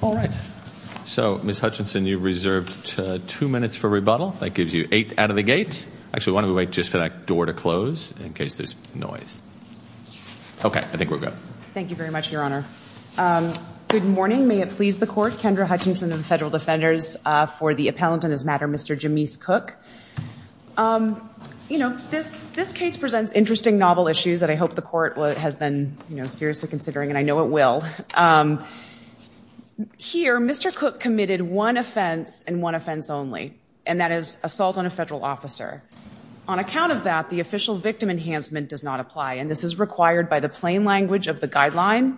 All right, so Ms. Hutchinson, you reserved two minutes for rebuttal. That gives you eight out of the gate. Actually, why don't we wait just for that door to close and then we'll move on to the next question. In case there's noise. Okay, I think we're good. Thank you very much, Your Honor. Good morning. May it please the Court. Kendra Hutchinson of the Federal Defenders for the appellant in this matter, Mr. James Cooke. You know, this case presents interesting novel issues that I hope the Court has been seriously considering, and I know it will. Here, Mr. Cooke committed one offense and one offense only, and that is assault on a federal officer. On account of that, the official victim enhancement does not apply, and this is required by the plain language of the guideline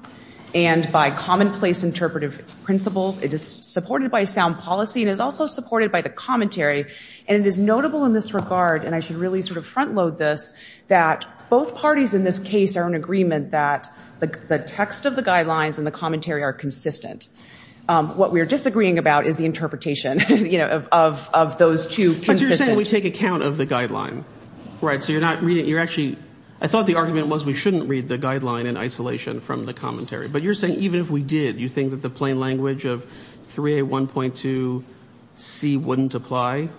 and by commonplace interpretive principles. It is supported by sound policy and is also supported by the commentary, and it is notable in this regard, and I should really sort of front load this, that both parties in this case are in agreement that the text of the guidelines and the commentary are consistent. What we are disagreeing about is the interpretation, you know, of those two consistent. How can we take account of the guideline? Right, so you're not reading, you're actually, I thought the argument was we shouldn't read the guideline in isolation from the commentary, but you're saying even if we did, you think that the plain language of 3A1.2C wouldn't apply?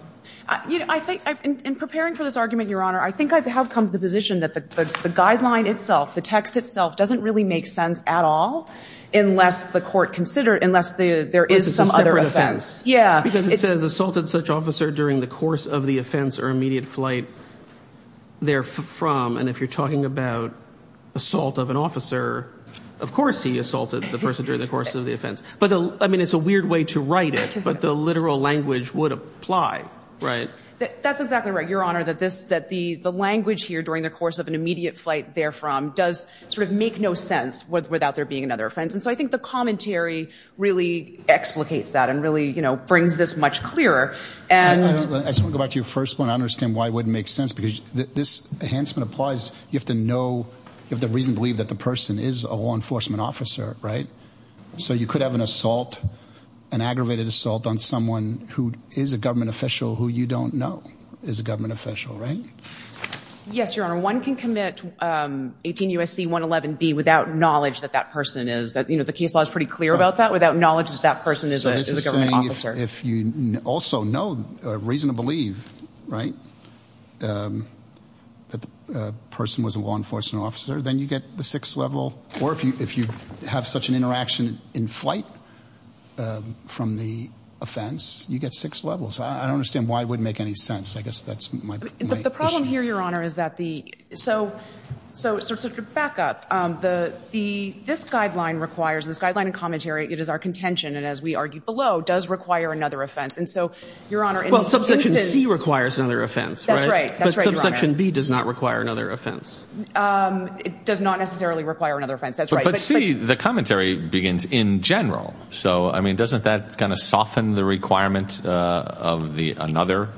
You know, I think, in preparing for this argument, Your Honor, I think I have come to the position that the guideline itself, the text itself doesn't really make sense at all unless the Court considers, unless there is some other offense. Because it's a separate offense. Yeah. The person during the course of the offense or immediate flight therefrom, and if you're talking about assault of an officer, of course he assaulted the person during the course of the offense. I mean, it's a weird way to write it, but the literal language would apply, right? That's exactly right, Your Honor, that the language here, during the course of an immediate flight therefrom, does sort of make no sense without there being another offense. And so I think the commentary really explicates that and really, you know, brings this much clearer. I just want to go back to your first one. I understand why it wouldn't make sense because this enhancement applies. You have to know, you have to reasonably believe that the person is a law enforcement officer, right? So you could have an assault, an aggravated assault on someone who is a government official who you don't know is a government official, right? Yes, Your Honor. One can commit 18 U.S.C. 111B without knowledge that that person is. You know, the case law is pretty clear about that, without knowledge that that person is a government officer. You're saying if you also know, reason to believe, right, that the person was a law enforcement officer, then you get the sixth level? Or if you have such an interaction in flight from the offense, you get six levels. I don't understand why it wouldn't make any sense. I guess that's my issue. The problem here, Your Honor, is that the ‑‑ so to back up, this guideline requires, this guideline and commentary, it is our contention, and as we argued below, does require another offense. And so, Your Honor, in this instance ‑‑ Well, subsection C requires another offense, right? That's right. That's right, Your Honor. But subsection B does not require another offense. It does not necessarily require another offense. That's right. But C, the commentary begins in general. So, I mean, doesn't that kind of soften the requirement of the another,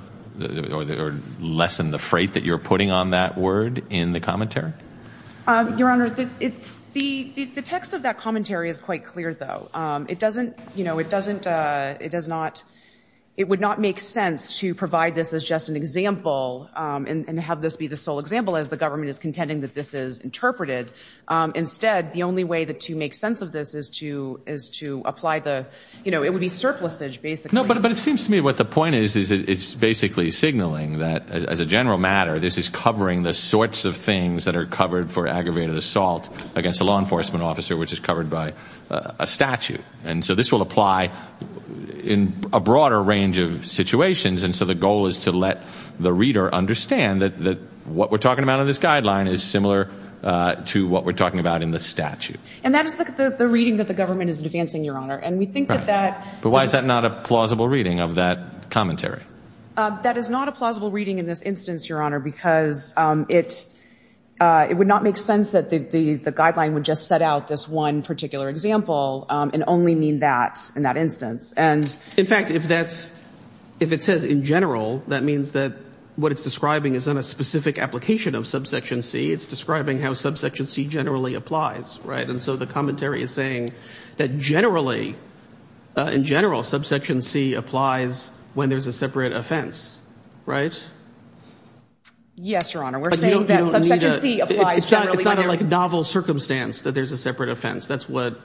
or lessen the freight that you're putting on that word in the commentary? Your Honor, the text of that commentary is quite clear, though. It doesn't ‑‑ you know, it doesn't ‑‑ it does not ‑‑ it would not make sense to provide this as just an example and have this be the sole example as the government is contending that this is interpreted. Instead, the only way to make sense of this is to apply the ‑‑ you know, it would be surplusage, basically. No, but it seems to me what the point is, is it's basically signaling that, as a general matter, this is covering the sorts of things that are covered for aggravated assault against a law enforcement officer, which is covered by a statute. And so this will apply in a broader range of situations. And so the goal is to let the reader understand that what we're talking about in this guideline is similar to what we're talking about in the statute. And that is the reading that the government is advancing, Your Honor. And we think that that ‑‑ But why is that not a plausible reading of that commentary? That is not a plausible reading in this instance, Your Honor, because it would not make sense that the guideline would just set out this one particular example and only mean that in that instance. In fact, if that's ‑‑ if it says in general, that means that what it's describing isn't a specific application of subsection C. It's describing how subsection C generally applies, right? And so the commentary is saying that generally, in general, subsection C applies when there's a separate offense, right? Yes, Your Honor. We're saying that subsection C applies generally. It's not like a novel circumstance that there's a separate offense. That's what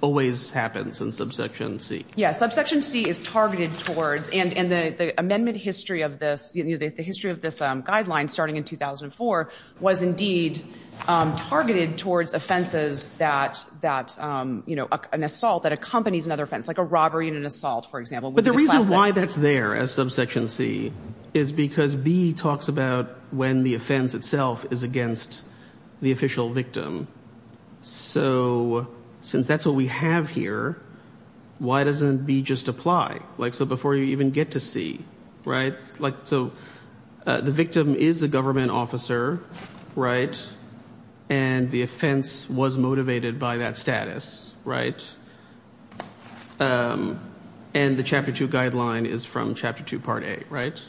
always happens in subsection C. Yes. Subsection C is targeted towards, and the amendment history of this, the history of this guideline starting in 2004, was indeed targeted towards offenses that, you know, an assault that accompanies another offense, like a robbery and an assault, for example. But the reason why that's there as subsection C is because B talks about when the offense itself is against the official victim. So since that's what we have here, why doesn't B just apply? Like, so before you even get to C, right? Like, so the victim is a government officer, right? And the offense was motivated by that status, right? And the Chapter 2 guideline is from Chapter 2, Part A, right?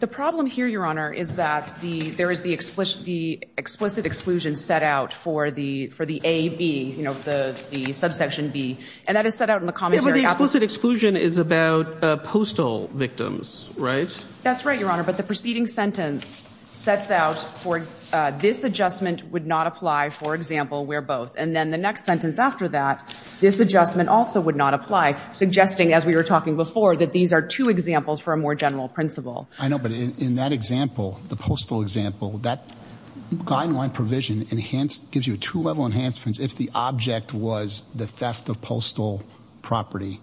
The problem here, Your Honor, is that there is the explicit exclusion set out for the A, B, you know, the subsection B, and that is set out in the commentary. Yeah, but the explicit exclusion is about postal victims, right? That's right, Your Honor. But the preceding sentence sets out, for example, this adjustment would not apply, for example, where both. And then the next sentence after that, this adjustment also would not apply, suggesting, as we were talking before, that these are two examples for a more general principle. I know, but in that example, the postal example, that guideline provision gives you a two-level enhancement if the object was the theft of postal property.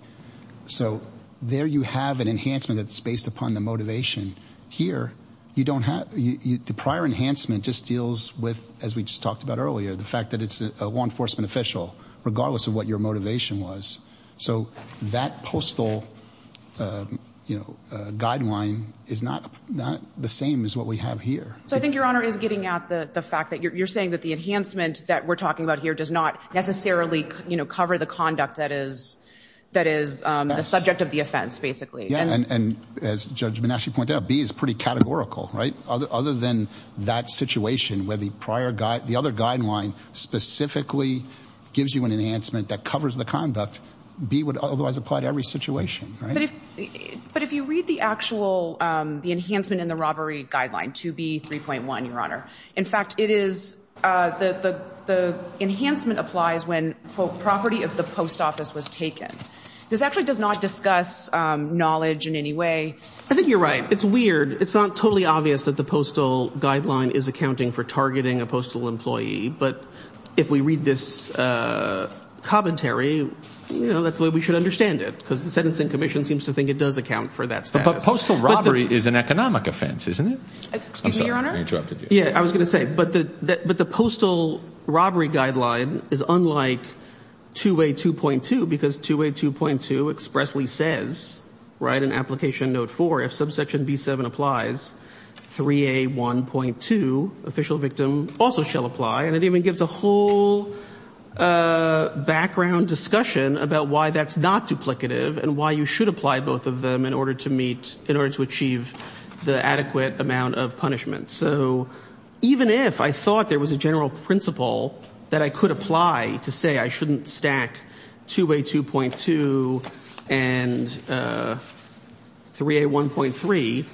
So there you have an enhancement that's based upon the motivation. Here, the prior enhancement just deals with, as we just talked about earlier, the fact that it's a law enforcement official, regardless of what your motivation was. So that postal guideline is not the same as what we have here. So I think Your Honor is getting at the fact that you're saying that the enhancement that we're talking about here does not necessarily cover the conduct that is the subject of the offense, basically. Yeah, and as Judge Menachie pointed out, B is pretty categorical, right? Other than that situation where the other guideline specifically gives you an enhancement that covers the conduct, B would otherwise apply to every situation, right? But if you read the actual enhancement in the robbery guideline, 2B.3.1, Your Honor, in fact, the enhancement applies when property of the post office was taken. This actually does not discuss knowledge in any way. I think you're right. It's weird. It's not totally obvious that the postal guideline is accounting for targeting a postal employee, but if we read this commentary, that's the way we should understand it, because the Sentencing Commission seems to think it does account for that status. But postal robbery is an economic offense, isn't it? Excuse me, Your Honor. Yeah, I was going to say, but the postal robbery guideline is unlike 2A.2.2, because 2A.2.2 expressly says, right, in Application Note 4, if subsection B.7 applies, 3A.1.2, official victim, also shall apply. And it even gives a whole background discussion about why that's not duplicative and why you should apply both of them in order to achieve the adequate amount of punishment. So even if I thought there was a general principle that I could apply to say I shouldn't stack 2A.2.2 and 3A.1.3,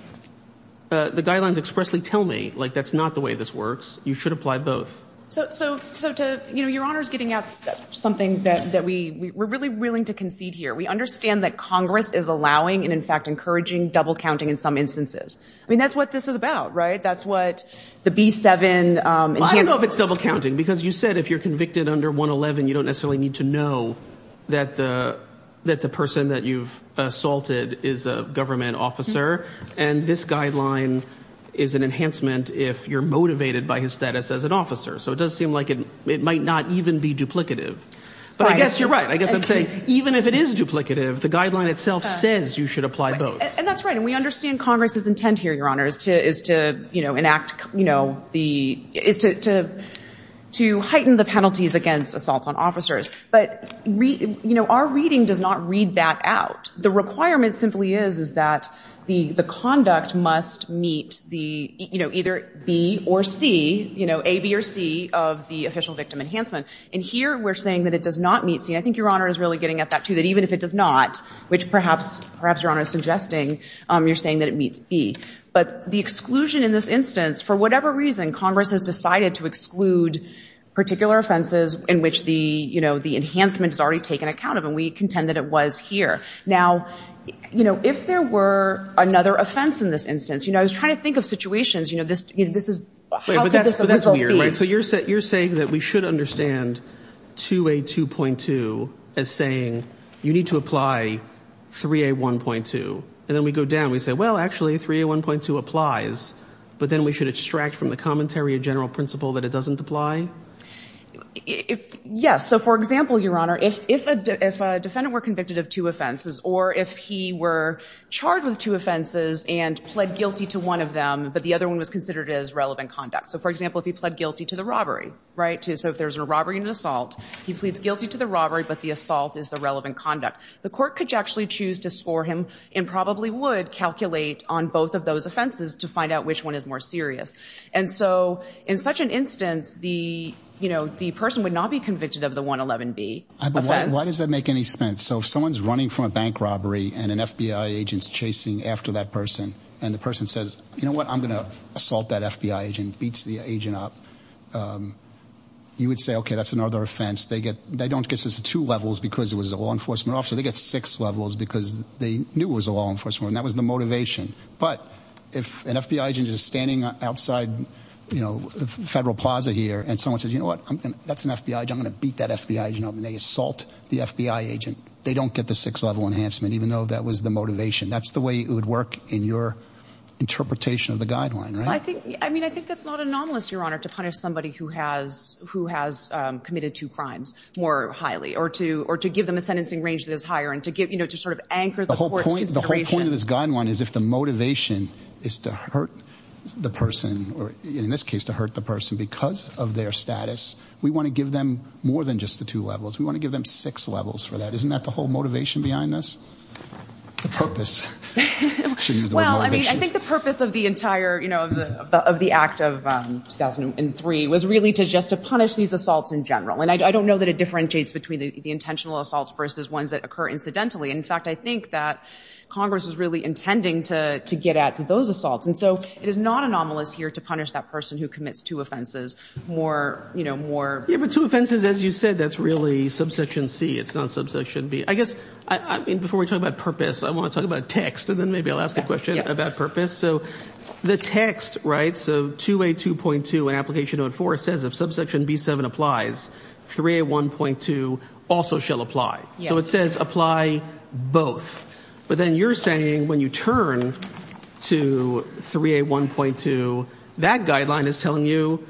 the guidelines expressly tell me, like, that's not the way this works. You should apply both. So, Your Honor is getting at something that we're really willing to concede here. We understand that Congress is allowing and, in fact, encouraging double counting in some instances. I mean, that's what this is about, right? That's what the B.7. I don't know if it's double counting, because you said if you're convicted under 111, you don't necessarily need to know that the person that you've assaulted is a government officer, and this guideline is an enhancement if you're motivated by his status as an officer. So it does seem like it might not even be duplicative. But I guess you're right. I guess I'm saying even if it is duplicative, the guideline itself says you should apply both. And that's right. And we understand Congress's intent here, Your Honor, is to, you know, enact, you know, is to heighten the penalties against assaults on officers. But, you know, our reading does not read that out. The requirement simply is, is that the conduct must meet the, you know, either B or C, you know, A, B, or C of the official victim enhancement. And here we're saying that it does not meet C. I think Your Honor is really getting at that, too, that even if it does not, which perhaps Your Honor is suggesting, you're saying that it meets B. But the exclusion in this instance, for whatever reason, Congress has decided to exclude particular offenses in which the, you know, the enhancement is already taken account of, and we contend that it was here. Now, you know, if there were another offense in this instance, you know, I was trying to think of situations, you know, this is, how could this result be? But that's weird, right? So you're saying that we should understand 2A2.2 as saying you need to apply 3A1.2. And then we go down and we say, well, actually, 3A1.2 applies, but then we should extract from the commentary a general principle that it doesn't apply? Yes. So, for example, Your Honor, if a defendant were convicted of two offenses or if he were charged with two offenses and pled guilty to one of them, but the other one was considered as relevant conduct. So, for example, if he pled guilty to the robbery, right? So if there's a robbery and an assault, he pleads guilty to the robbery, but the assault is the relevant conduct. The court could actually choose to score him and probably would calculate on both of those offenses to find out which one is more serious. And so in such an instance, the person would not be convicted of the 111B offense. But why does that make any sense? So if someone's running from a bank robbery and an FBI agent's chasing after that person and the person says, you know what, I'm going to assault that FBI agent, beats the agent up, you would say, okay, that's another offense. They don't get to two levels because it was a law enforcement officer. They get six levels because they knew it was a law enforcement officer. And that was the motivation. But if an FBI agent is standing outside, you know, Federal Plaza here and someone says, you know what, that's an FBI agent, I'm going to beat that FBI agent up, and they assault the FBI agent, they don't get the six-level enhancement, even though that was the motivation. That's the way it would work in your interpretation of the guideline, right? I mean, I think that's not anomalous, Your Honor, to punish somebody who has committed two crimes more highly or to give them a sentencing range that is higher and to sort of anchor the court's consideration. The whole point of this guideline is if the motivation is to hurt the person, or in this case to hurt the person because of their status, we want to give them more than just the two levels. We want to give them six levels for that. Isn't that the whole motivation behind this? Well, I mean, I think the purpose of the entire, you know, of the act of 2003 was really just to punish these assaults in general. And I don't know that it differentiates between the intentional assaults versus ones that occur incidentally. In fact, I think that Congress is really intending to get at those assaults. And so it is not anomalous here to punish that person who commits two offenses more, you know, more. Yeah, but two offenses, as you said, that's really subsection C. It's not subsection B. I guess, I mean, before we talk about purpose, I want to talk about text, and then maybe I'll ask a question about purpose. So the text, right, so 2A2.2 in Application Note 4 says if subsection B7 applies, 3A1.2 also shall apply. So it says apply both. But then you're saying when you turn to 3A1.2, that guideline is telling you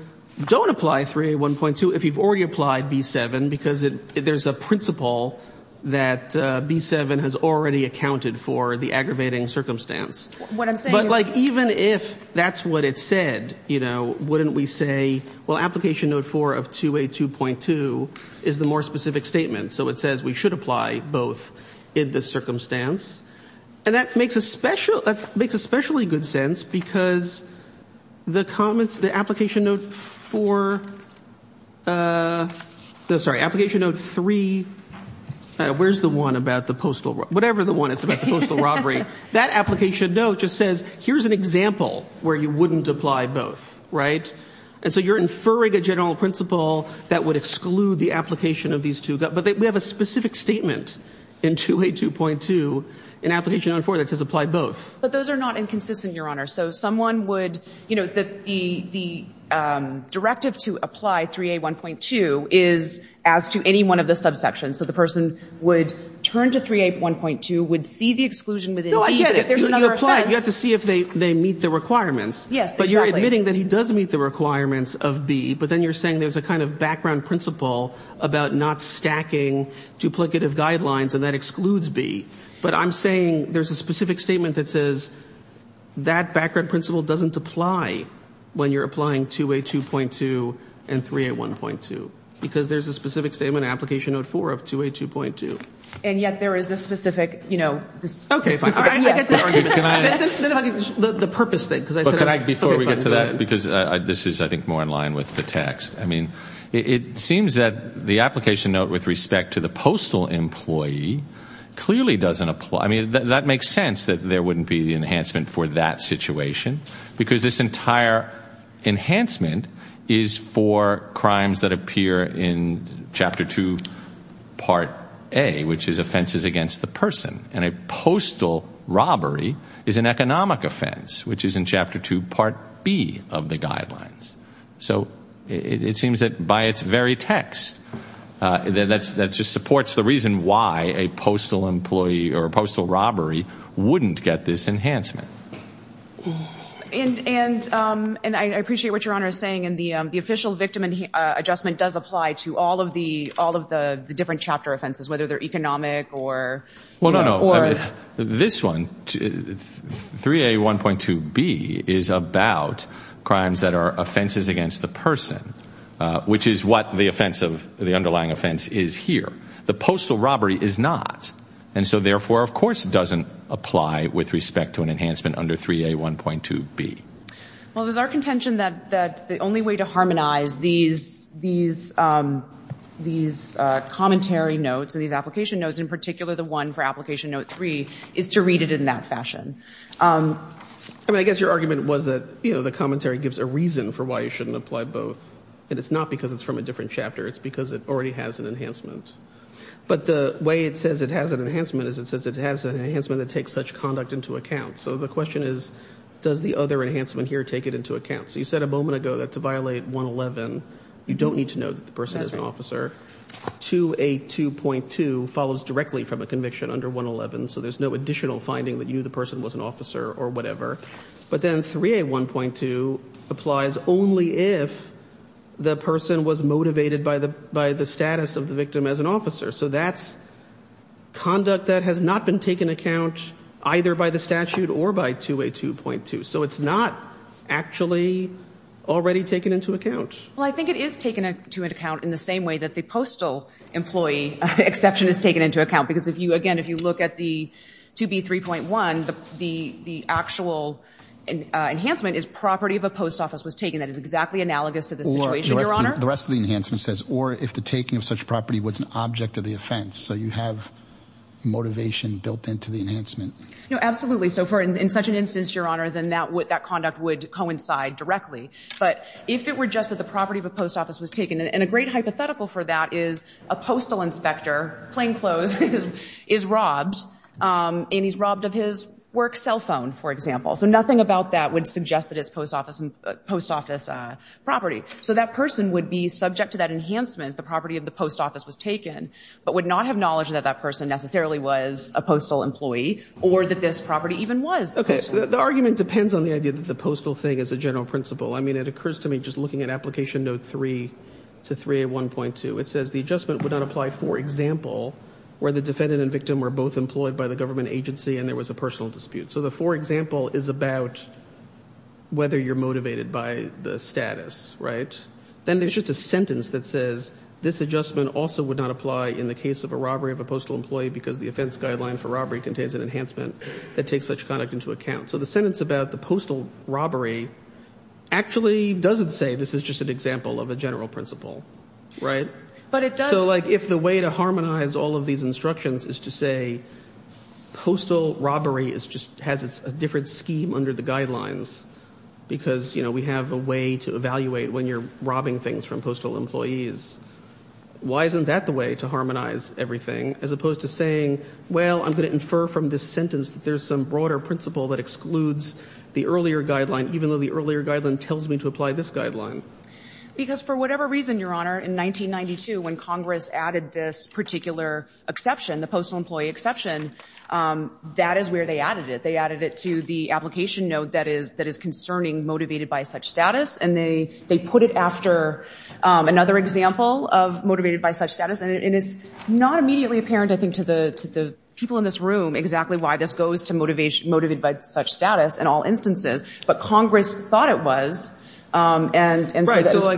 don't apply 3A1.2 if you've already applied B7 because there's a principle that B7 has already accounted for the aggravating circumstance. What I'm saying is... But, like, even if that's what it said, you know, wouldn't we say, well, Application Note 4 of 2A2.2 is the more specific statement. So it says we should apply both in this circumstance. And that makes especially good sense because the comments, the Application Note 4, no, sorry, Application Note 3, I don't know, where's the one about the postal, whatever the one is about the postal robbery. That Application Note just says here's an example where you wouldn't apply both. Right? And so you're inferring a general principle that would exclude the application of these two. But we have a specific statement in 2A2.2 in Application Note 4 that says apply both. But those are not inconsistent, Your Honor. So someone would, you know, the directive to apply 3A1.2 is as to any one of the subsections. So the person would turn to 3A1.2, would see the exclusion within B. No, I get it. You apply. You have to see if they meet the requirements. Yes, exactly. But you're admitting that he does meet the requirements of B. But then you're saying there's a kind of background principle about not stacking duplicative guidelines and that excludes B. But I'm saying there's a specific statement that says that background principle doesn't apply when you're applying 2A2.2 and 3A1.2. Because there's a specific statement in Application Note 4 of 2A2.2. And yet there is a specific, you know, Okay, fine. All right. I get that. The purpose thing. Before we get to that, because this is, I think, more in line with the text. I mean, it seems that the application note with respect to the postal employee clearly doesn't apply. I mean, that makes sense that there wouldn't be enhancement for that situation because this entire enhancement is for crimes that appear in Chapter 2, Part A, which is offenses against the person. And a postal robbery is an economic offense, which is in Chapter 2, Part B, of the guidelines. So it seems that by its very text, that just supports the reason why a postal employee or a postal robbery wouldn't get this enhancement. And I appreciate what Your Honor is saying. And the official victim adjustment does apply to all of the different chapter offenses, whether they're economic or, you know. Well, no, no. This one, 3A1.2B, is about crimes that are offenses against the person, which is what the underlying offense is here. The postal robbery is not. And so, therefore, of course it doesn't apply with respect to an enhancement under 3A1.2B. Well, it is our contention that the only way to harmonize these commentary notes and these application notes, in particular the one for Application Note 3, is to read it in that fashion. I mean, I guess your argument was that, you know, the commentary gives a reason for why you shouldn't apply both. And it's not because it's from a different chapter. It's because it already has an enhancement. But the way it says it has an enhancement is it says it has an enhancement that takes such conduct into account. So the question is, does the other enhancement here take it into account? So you said a moment ago that to violate 111, you don't need to know that the person is an officer. 2A2.2 follows directly from a conviction under 111, so there's no additional finding that you, the person, was an officer or whatever. But then 3A1.2 applies only if the person was motivated by the status of the victim as an officer. So that's conduct that has not been taken account either by the statute or by 2A2.2. So it's not actually already taken into account. Well, I think it is taken into account in the same way that the postal employee exception is taken into account because, again, if you look at the 2B3.1, the actual enhancement is property of a post office was taken. That is exactly analogous to the situation, Your Honor. The rest of the enhancement says or if the taking of such property was an object of the offense. So you have motivation built into the enhancement. No, absolutely. So in such an instance, Your Honor, then that conduct would coincide directly. But if it were just that the property of a post office was taken, and a great hypothetical for that is a postal inspector, plainclothes, is robbed, and he's robbed of his work cell phone, for example. So nothing about that would suggest that it's post office property. So that person would be subject to that enhancement, the property of the post office was taken, but would not have knowledge that that person necessarily was a postal employee or that this property even was postal. The argument depends on the idea that the postal thing is a general principle. I mean, it occurs to me just looking at Application Note 3 to 3A1.2, it says the adjustment would not apply, for example, where the defendant and victim were both employed by the government agency and there was a personal dispute. So the for example is about whether you're motivated by the status, right? Then there's just a sentence that says this adjustment also would not apply in the case of a robbery of a postal employee because the offense guideline for robbery contains an enhancement that takes such conduct into account. So the sentence about the postal robbery actually doesn't say this is just an example of a general principle, right? So, like, if the way to harmonize all of these instructions is to say postal robbery has a different scheme under the guidelines because, you know, we have a way to evaluate when you're robbing things from postal employees, why isn't that the way to harmonize everything as opposed to saying, well, I'm going to infer from this sentence that there's some broader principle that excludes the earlier guideline even though the earlier guideline tells me to apply this guideline? Because for whatever reason, Your Honor, in 1992 when Congress added this particular exception, the postal employee exception, that is where they added it. They added it to the application note that is concerning motivated by such status and they put it after another example of motivated by such status. And it's not immediately apparent, I think, to the people in this room exactly why this goes to motivated by such status in all instances. But Congress thought it was. Right.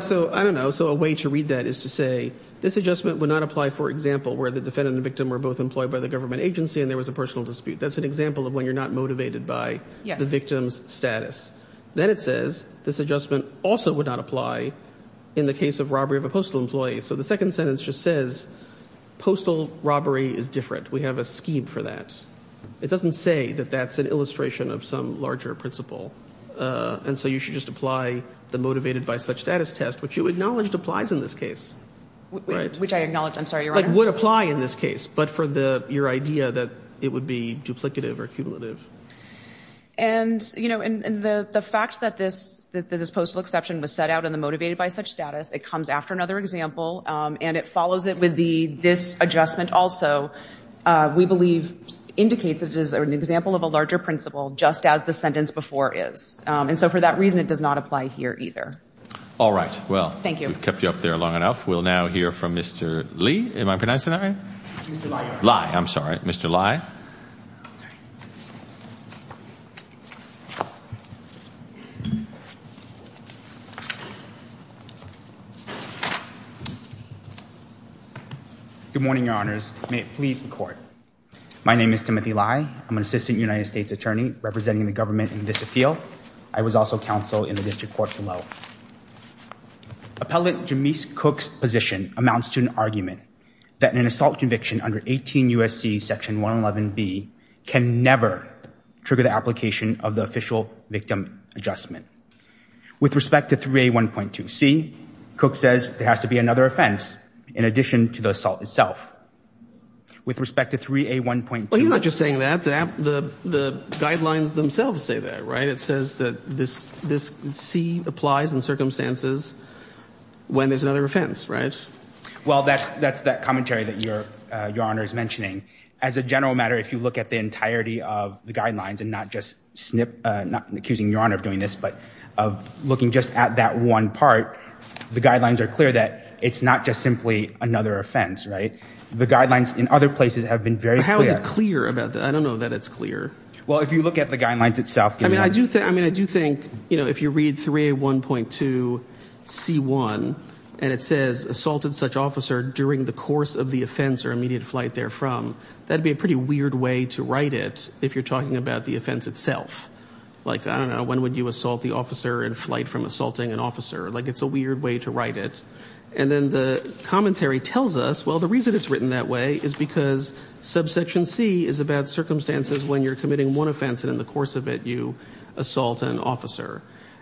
So, like, I don't know. So a way to read that is to say this adjustment would not apply, for example, where the defendant and the victim were both employed by the government agency and there was a personal dispute. That's an example of when you're not motivated by the victim's status. Then it says this adjustment also would not apply in the case of robbery of a postal employee. So the second sentence just says postal robbery is different. We have a scheme for that. It doesn't say that that's an illustration of some larger principle. And so you should just apply the motivated by such status test, which you acknowledged applies in this case. Which I acknowledge, I'm sorry, Your Honor. Like, would apply in this case, but for your idea that it would be duplicative or cumulative. And, you know, the fact that this postal exception was set out in the motivated by such status, it comes after another example, and it follows it with this adjustment also, we believe indicates it is an example of a larger principle, just as the sentence before is. And so for that reason, it does not apply here either. All right. Well. Thank you. We've kept you up there long enough. We'll now hear from Mr. Lee. Am I pronouncing that right? I'm sorry, Mr. Lai. Good morning, Your Honors. May it please the court. My name is Timothy Lai. I'm an assistant United States attorney representing the government in this appeal. I was also counsel in the district court below. Appellant James Cook's position amounts to an argument that an assault conviction under 18 U.S.C. Section 111B can never trigger the application of the official victim adjustment. With respect to 3A1.2C, Cook says there has to be another offense in addition to the assault itself. With respect to 3A1.2. Well, he's not just saying that. The guidelines themselves say that, right? It says that this C applies in circumstances when there's another offense, right? Well, that's that commentary that Your Honor is mentioning. As a general matter, if you look at the entirety of the guidelines and not just accusing Your Honor of doing this, but of looking just at that one part, the guidelines are clear that it's not just simply another offense, right? The guidelines in other places have been very clear. How is it clear? I don't know that it's clear. Well, if you look at the guidelines itself. I mean, I do think, you know, if you read 3A1.2C1 and it says assaulted such officer during the course of the offense or immediate flight therefrom, that would be a pretty weird way to write it if you're talking about the offense itself. Like, I don't know, when would you assault the officer in flight from assaulting an officer? Like, it's a weird way to write it. And then the commentary tells us, well, the reason it's written that way is because subsection C is about circumstances when you're committing one offense and in the course of it you assault an officer.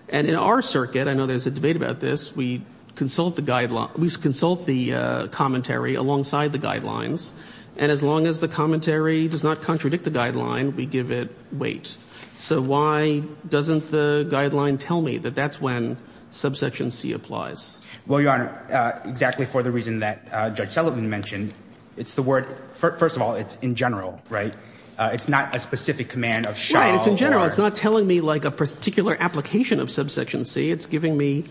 And in our circuit, I know there's a debate about this, we consult the commentary alongside the guidelines. And as long as the commentary does not contradict the guideline, we give it weight. So why doesn't the guideline tell me that that's when subsection C applies? Well, Your Honor, exactly for the reason that Judge Sullivan mentioned. It's the word, first of all, it's in general, right? It's not a specific command of shall. Yeah, it's in general. It's not telling me, like, a particular application of subsection C. It's giving me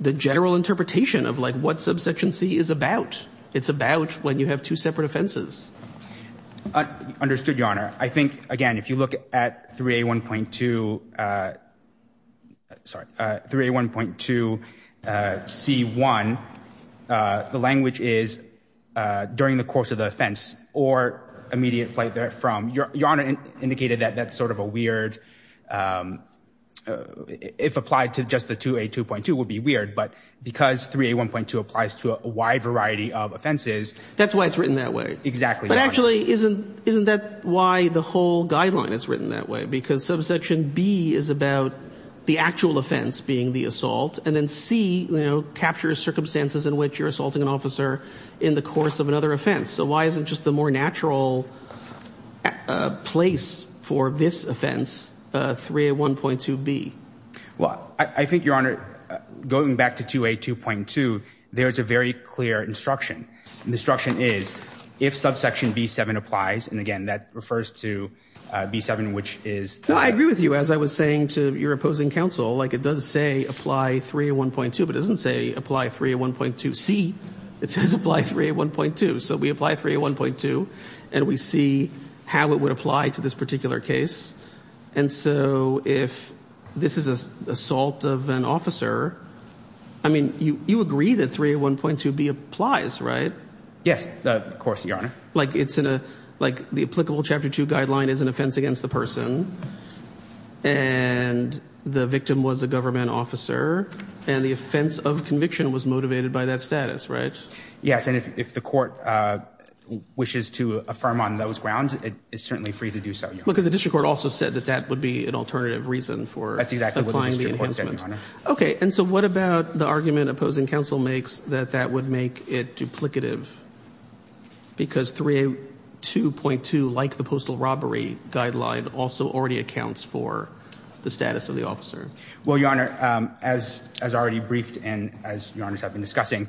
the general interpretation of, like, what subsection C is about. It's about when you have two separate offenses. Understood, Your Honor. I think, again, if you look at 3A1.2, sorry, 3A1.2C1, the language is during the course of the offense or immediate flight therefrom. Your Honor indicated that that's sort of a weird – if applied to just the 2A2.2 would be weird. But because 3A1.2 applies to a wide variety of offenses – That's why it's written that way. Exactly, Your Honor. But actually, isn't that why the whole guideline is written that way? Because subsection B is about the actual offense being the assault. And then C, you know, captures circumstances in which you're assaulting an officer in the course of another offense. So why isn't just the more natural place for this offense 3A1.2B? Well, I think, Your Honor, going back to 2A2.2, there's a very clear instruction. The instruction is if subsection B7 applies – and, again, that refers to B7, which is – No, I agree with you. As I was saying to your opposing counsel, like it does say apply 3A1.2, but it doesn't say apply 3A1.2C. It says apply 3A1.2. So we apply 3A1.2, and we see how it would apply to this particular case. And so if this is an assault of an officer, I mean, you agree that 3A1.2B applies, right? Yes, of course, Your Honor. Like it's in a – like the applicable Chapter 2 guideline is an offense against the person, and the victim was a government officer, and the offense of conviction was motivated by that status, right? Yes, and if the court wishes to affirm on those grounds, it's certainly free to do so, Your Honor. Because the district court also said that that would be an alternative reason for applying the enhancement. Okay, and so what about the argument opposing counsel makes that that would make it duplicative because 3A2.2, like the postal robbery guideline, also already accounts for the status of the officer? Well, Your Honor, as already briefed and as Your Honors have been discussing,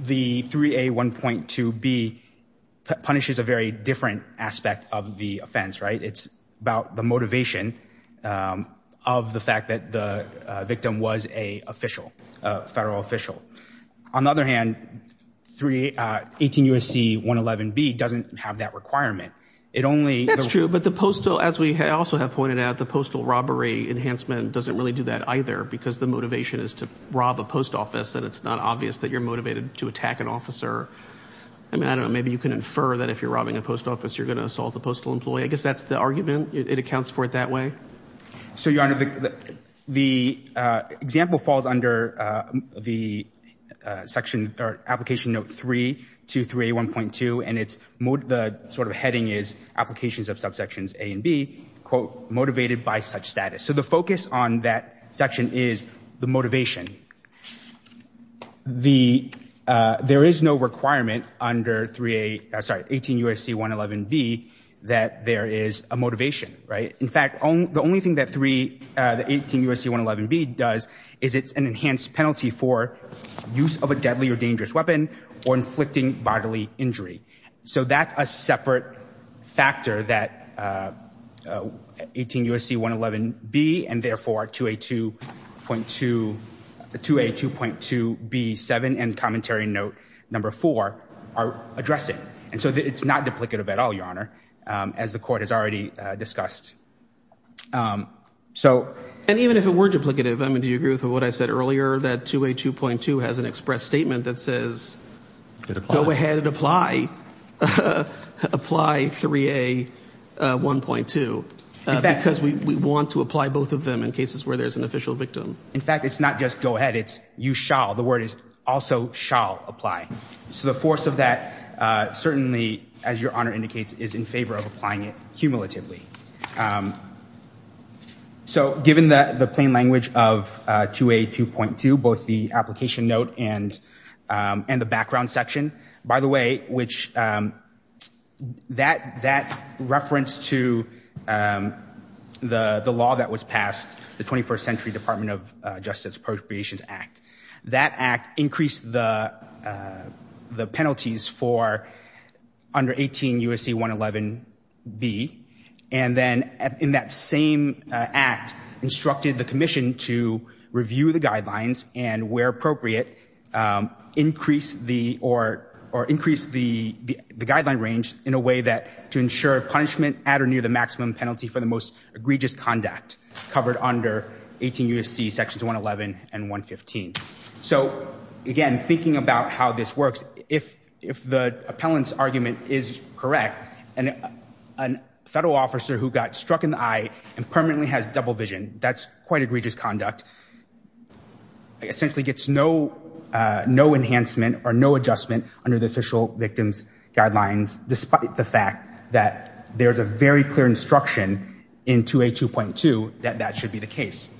the 3A1.2B punishes a very different aspect of the offense, right? It's about the motivation of the fact that the victim was a official, a federal official. On the other hand, 18 U.S.C. 111B doesn't have that requirement. It only – That's true, but the postal, as we also have pointed out, the postal robbery enhancement doesn't really do that either because the motivation is to rob a post office, and it's not obvious that you're motivated to attack an officer. I mean, I don't know, maybe you can infer that if you're robbing a post office, you're going to assault a postal employee. I guess that's the argument. It accounts for it that way. So, Your Honor, the example falls under the section or application note 323A1.2, and it's – the sort of heading is applications of subsections A and B, quote, motivated by such status. So the focus on that section is the motivation. The – there is no requirement under 3A – sorry, 18 U.S.C. 111B that there is a motivation, right? In fact, the only thing that 3 – that 18 U.S.C. 111B does is it's an enhanced penalty for use of a deadly or dangerous weapon or inflicting bodily injury. So that's a separate factor that 18 U.S.C. 111B and therefore 2A2.2 – 2A2.2B7 and commentary note number 4 are addressing. And so it's not duplicative at all, Your Honor, as the court has already discussed. So – And even if it were duplicative, I mean, do you agree with what I said earlier, that 2A2.2 has an express statement that says go ahead and apply – apply 3A1.2 because we want to apply both of them in cases where there's an official victim? In fact, it's not just go ahead. It's you shall – the word is also shall apply. So the force of that certainly, as Your Honor indicates, is in favor of applying it cumulatively. So given the plain language of 2A2.2, both the application note and the background section, by the way, which – that reference to the law that was passed, the 21st Century Department of Justice Appropriations Act, that act increased the penalties for under 18 U.S.C. 111B. And then in that same act instructed the commission to review the guidelines and, where appropriate, increase the – or increase the guideline range in a way that – to ensure punishment at or near the maximum penalty for the most egregious conduct covered under 18 U.S.C. Sections 111 and 115. So, again, thinking about how this works, if the appellant's argument is correct, and a federal officer who got struck in the eye and permanently has double vision, that's quite egregious conduct, essentially gets no enhancement or no adjustment under the official victim's guidelines, despite the fact that there's a very clear instruction in 2A2.2 that that should be the case.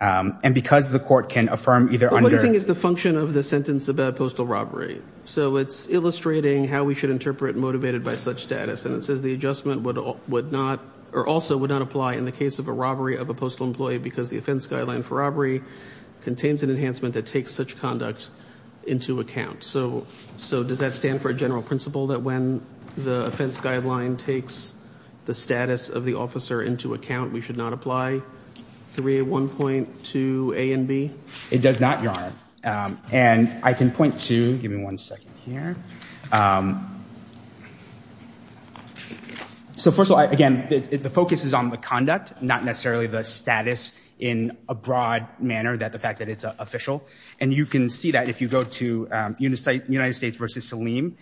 And because the court can affirm either under – But what do you think is the function of the sentence about postal robbery? So it's illustrating how we should interpret motivated by such status. And it says the adjustment would not – or also would not apply in the case of a robbery of a postal employee because the offense guideline for robbery contains an enhancement that takes such conduct into account. All right. So does that stand for a general principle that when the offense guideline takes the status of the officer into account, we should not apply 3A1.2a and b? It does not, Your Honor. And I can point to – give me one second here. So, first of all, again, the focus is on the conduct, not necessarily the status in a broad manner that the fact that it's official. And you can see that if you go to United States v. Saleem.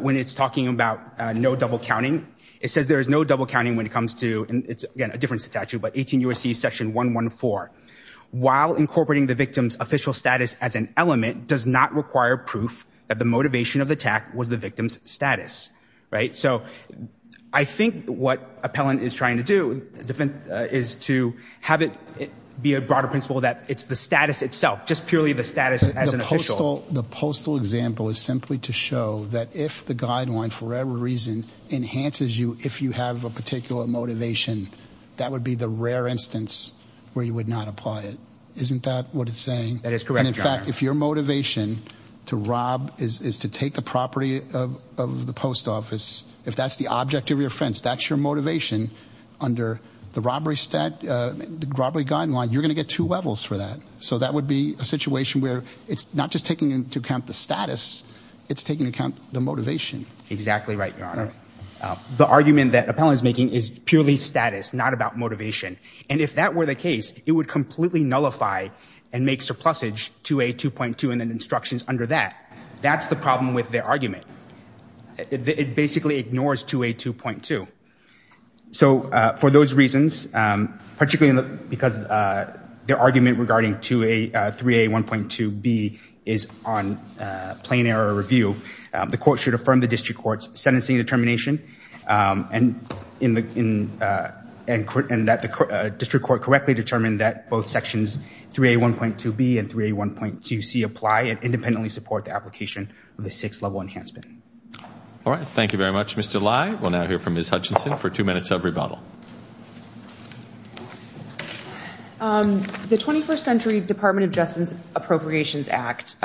When it's talking about no double counting, it says there is no double counting when it comes to – and it's, again, a different statute, but 18 U.S.C. section 114. While incorporating the victim's official status as an element does not require proof that the motivation of the attack was the victim's status. Right? So I think what appellant is trying to do is to have it be a broader principle that it's the status itself, not just purely the status as an official. The postal example is simply to show that if the guideline, for whatever reason, enhances you if you have a particular motivation, that would be the rare instance where you would not apply it. Isn't that what it's saying? That is correct, Your Honor. And, in fact, if your motivation to rob is to take the property of the post office, if that's the object of your offense, that's your motivation under the robbery guideline, you're going to get two levels for that. So that would be a situation where it's not just taking into account the status, it's taking into account the motivation. Exactly right, Your Honor. The argument that appellant is making is purely status, not about motivation. And if that were the case, it would completely nullify and make surplusage 2A2.2 and then instructions under that. That's the problem with their argument. It basically ignores 2A2.2. So for those reasons, particularly because their argument regarding 3A1.2B is on plain error review, the court should affirm the district court's sentencing determination and that the district court correctly determined that both sections 3A1.2B and 3A1.2C apply and independently support the application of the six-level enhancement. All right. Thank you very much, Mr. Lai. We'll now hear from Ms. Hutchinson for two minutes of rebuttal. The 21st Century Department of Justice Appropriations Act.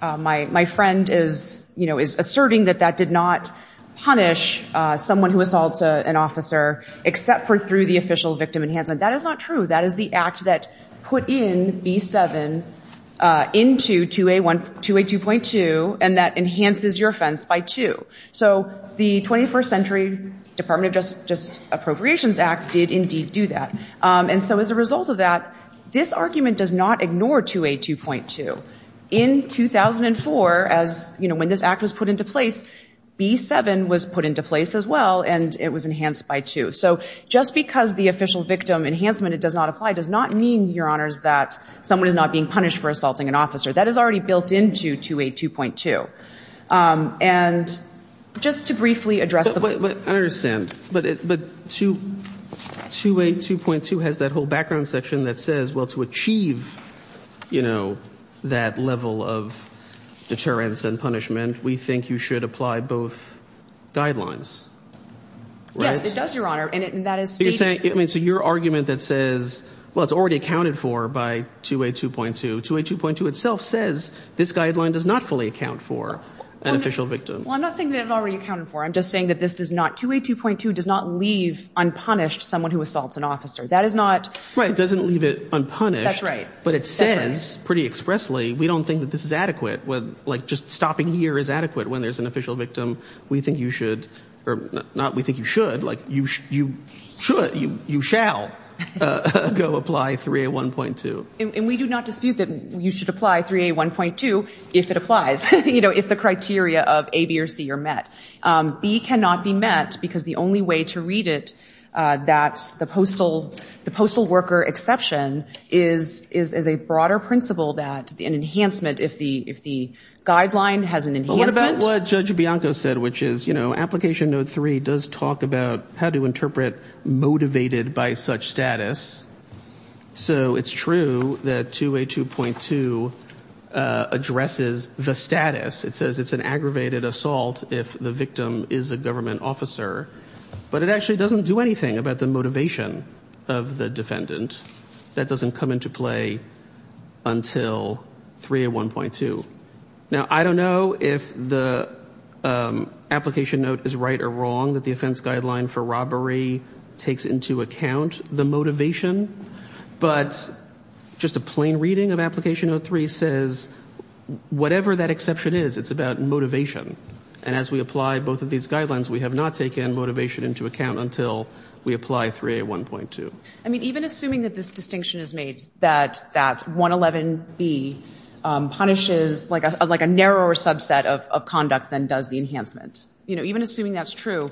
My friend is asserting that that did not punish someone who assaults an officer except for through the official victim enhancement. That is not true. That is the act that put in B7 into 2A2.2 and that enhances your offense by two. So the 21st Century Department of Justice Appropriations Act did indeed do that. And so as a result of that, this argument does not ignore 2A2.2. In 2004, when this act was put into place, B7 was put into place as well and it was enhanced by two. So just because the official victim enhancement does not apply does not mean, Your Honors, that someone is not being punished for assaulting an officer. That is already built into 2A2.2. And just to briefly address the point. I understand. But 2A2.2 has that whole background section that says, well, to achieve, you know, that level of deterrence and punishment, we think you should apply both guidelines. Yes, it does, Your Honor, and that is stated. I mean, so your argument that says, well, it's already accounted for by 2A2.2. 2A2.2 itself says this guideline does not fully account for an official victim. Well, I'm not saying that it's already accounted for. I'm just saying that this does not, 2A2.2 does not leave unpunished someone who assaults an officer. That is not. Right, it doesn't leave it unpunished. That's right. But it says pretty expressly, we don't think that this is adequate. Like just stopping here is adequate when there's an official victim. We think you should, or not we think you should, like you should, you shall go apply 3A1.2. And we do not dispute that you should apply 3A1.2 if it applies, you know, if the criteria of A, B, or C are met. B cannot be met because the only way to read it that the postal worker exception is a broader principle that an enhancement, if the guideline has an enhancement. But what about what Judge Bianco said, which is, you know, 2A2.2 addresses the status. It says it's an aggravated assault if the victim is a government officer. But it actually doesn't do anything about the motivation of the defendant. That doesn't come into play until 3A1.2. Now, I don't know if the application note is right or wrong, that the offense guideline for robbery takes into account the motivation. But just a plain reading of application note 3 says whatever that exception is, it's about motivation. And as we apply both of these guidelines, we have not taken motivation into account until we apply 3A1.2. I mean, even assuming that this distinction is made, that 111B punishes like a narrower subset of conduct than does the enhancement. You know, even assuming that's true,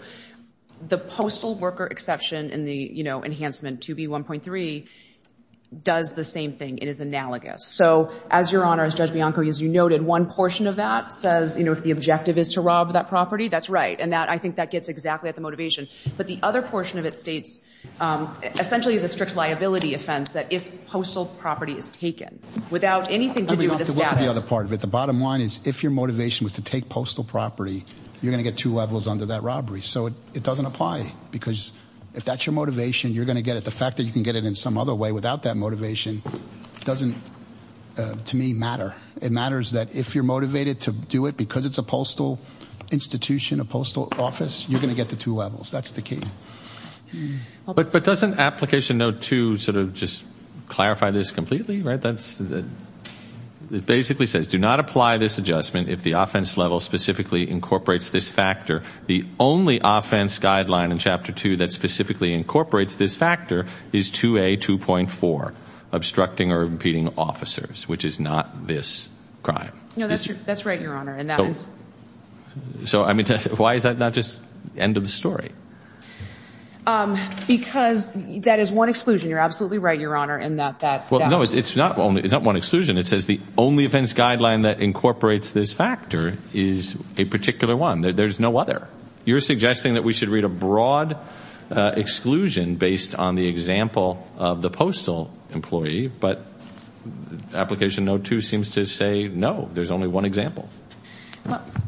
the postal worker exception and the, you know, enhancement 2B1.3 does the same thing. It is analogous. So, as Your Honor, as Judge Bianco, as you noted, one portion of that says, you know, if the objective is to rob that property, that's right. And I think that gets exactly at the motivation. But the other portion of it states essentially it's a strict liability offense that if postal property is taken without anything to do with the status. That's the other part of it. The bottom line is if your motivation was to take postal property, you're going to get two levels under that robbery. So it doesn't apply because if that's your motivation, you're going to get it. The fact that you can get it in some other way without that motivation doesn't, to me, matter. It matters that if you're motivated to do it because it's a postal institution, a postal office, you're going to get the two levels. That's the key. But doesn't application note 2 sort of just clarify this completely? It basically says do not apply this adjustment if the offense level specifically incorporates this factor. The only offense guideline in Chapter 2 that specifically incorporates this factor is 2A2.4, obstructing or impeding officers, which is not this crime. No, that's right, Your Honor. So, I mean, why is that not just end of the story? Because that is one exclusion. You're absolutely right, Your Honor. Well, no, it's not one exclusion. It says the only offense guideline that incorporates this factor is a particular one. There's no other. You're suggesting that we should read a broad exclusion based on the example of the postal employee. But application note 2 seems to say no, there's only one example.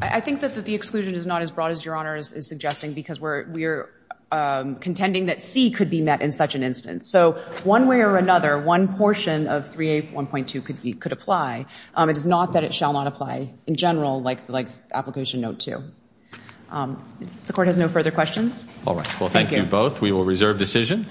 I think that the exclusion is not as broad as Your Honor is suggesting because we're contending that C could be met in such an instance. So one way or another, one portion of 3A1.2 could apply. It is not that it shall not apply in general like application note 2. The Court has no further questions. All right. Well, thank you both. We will reserve decision.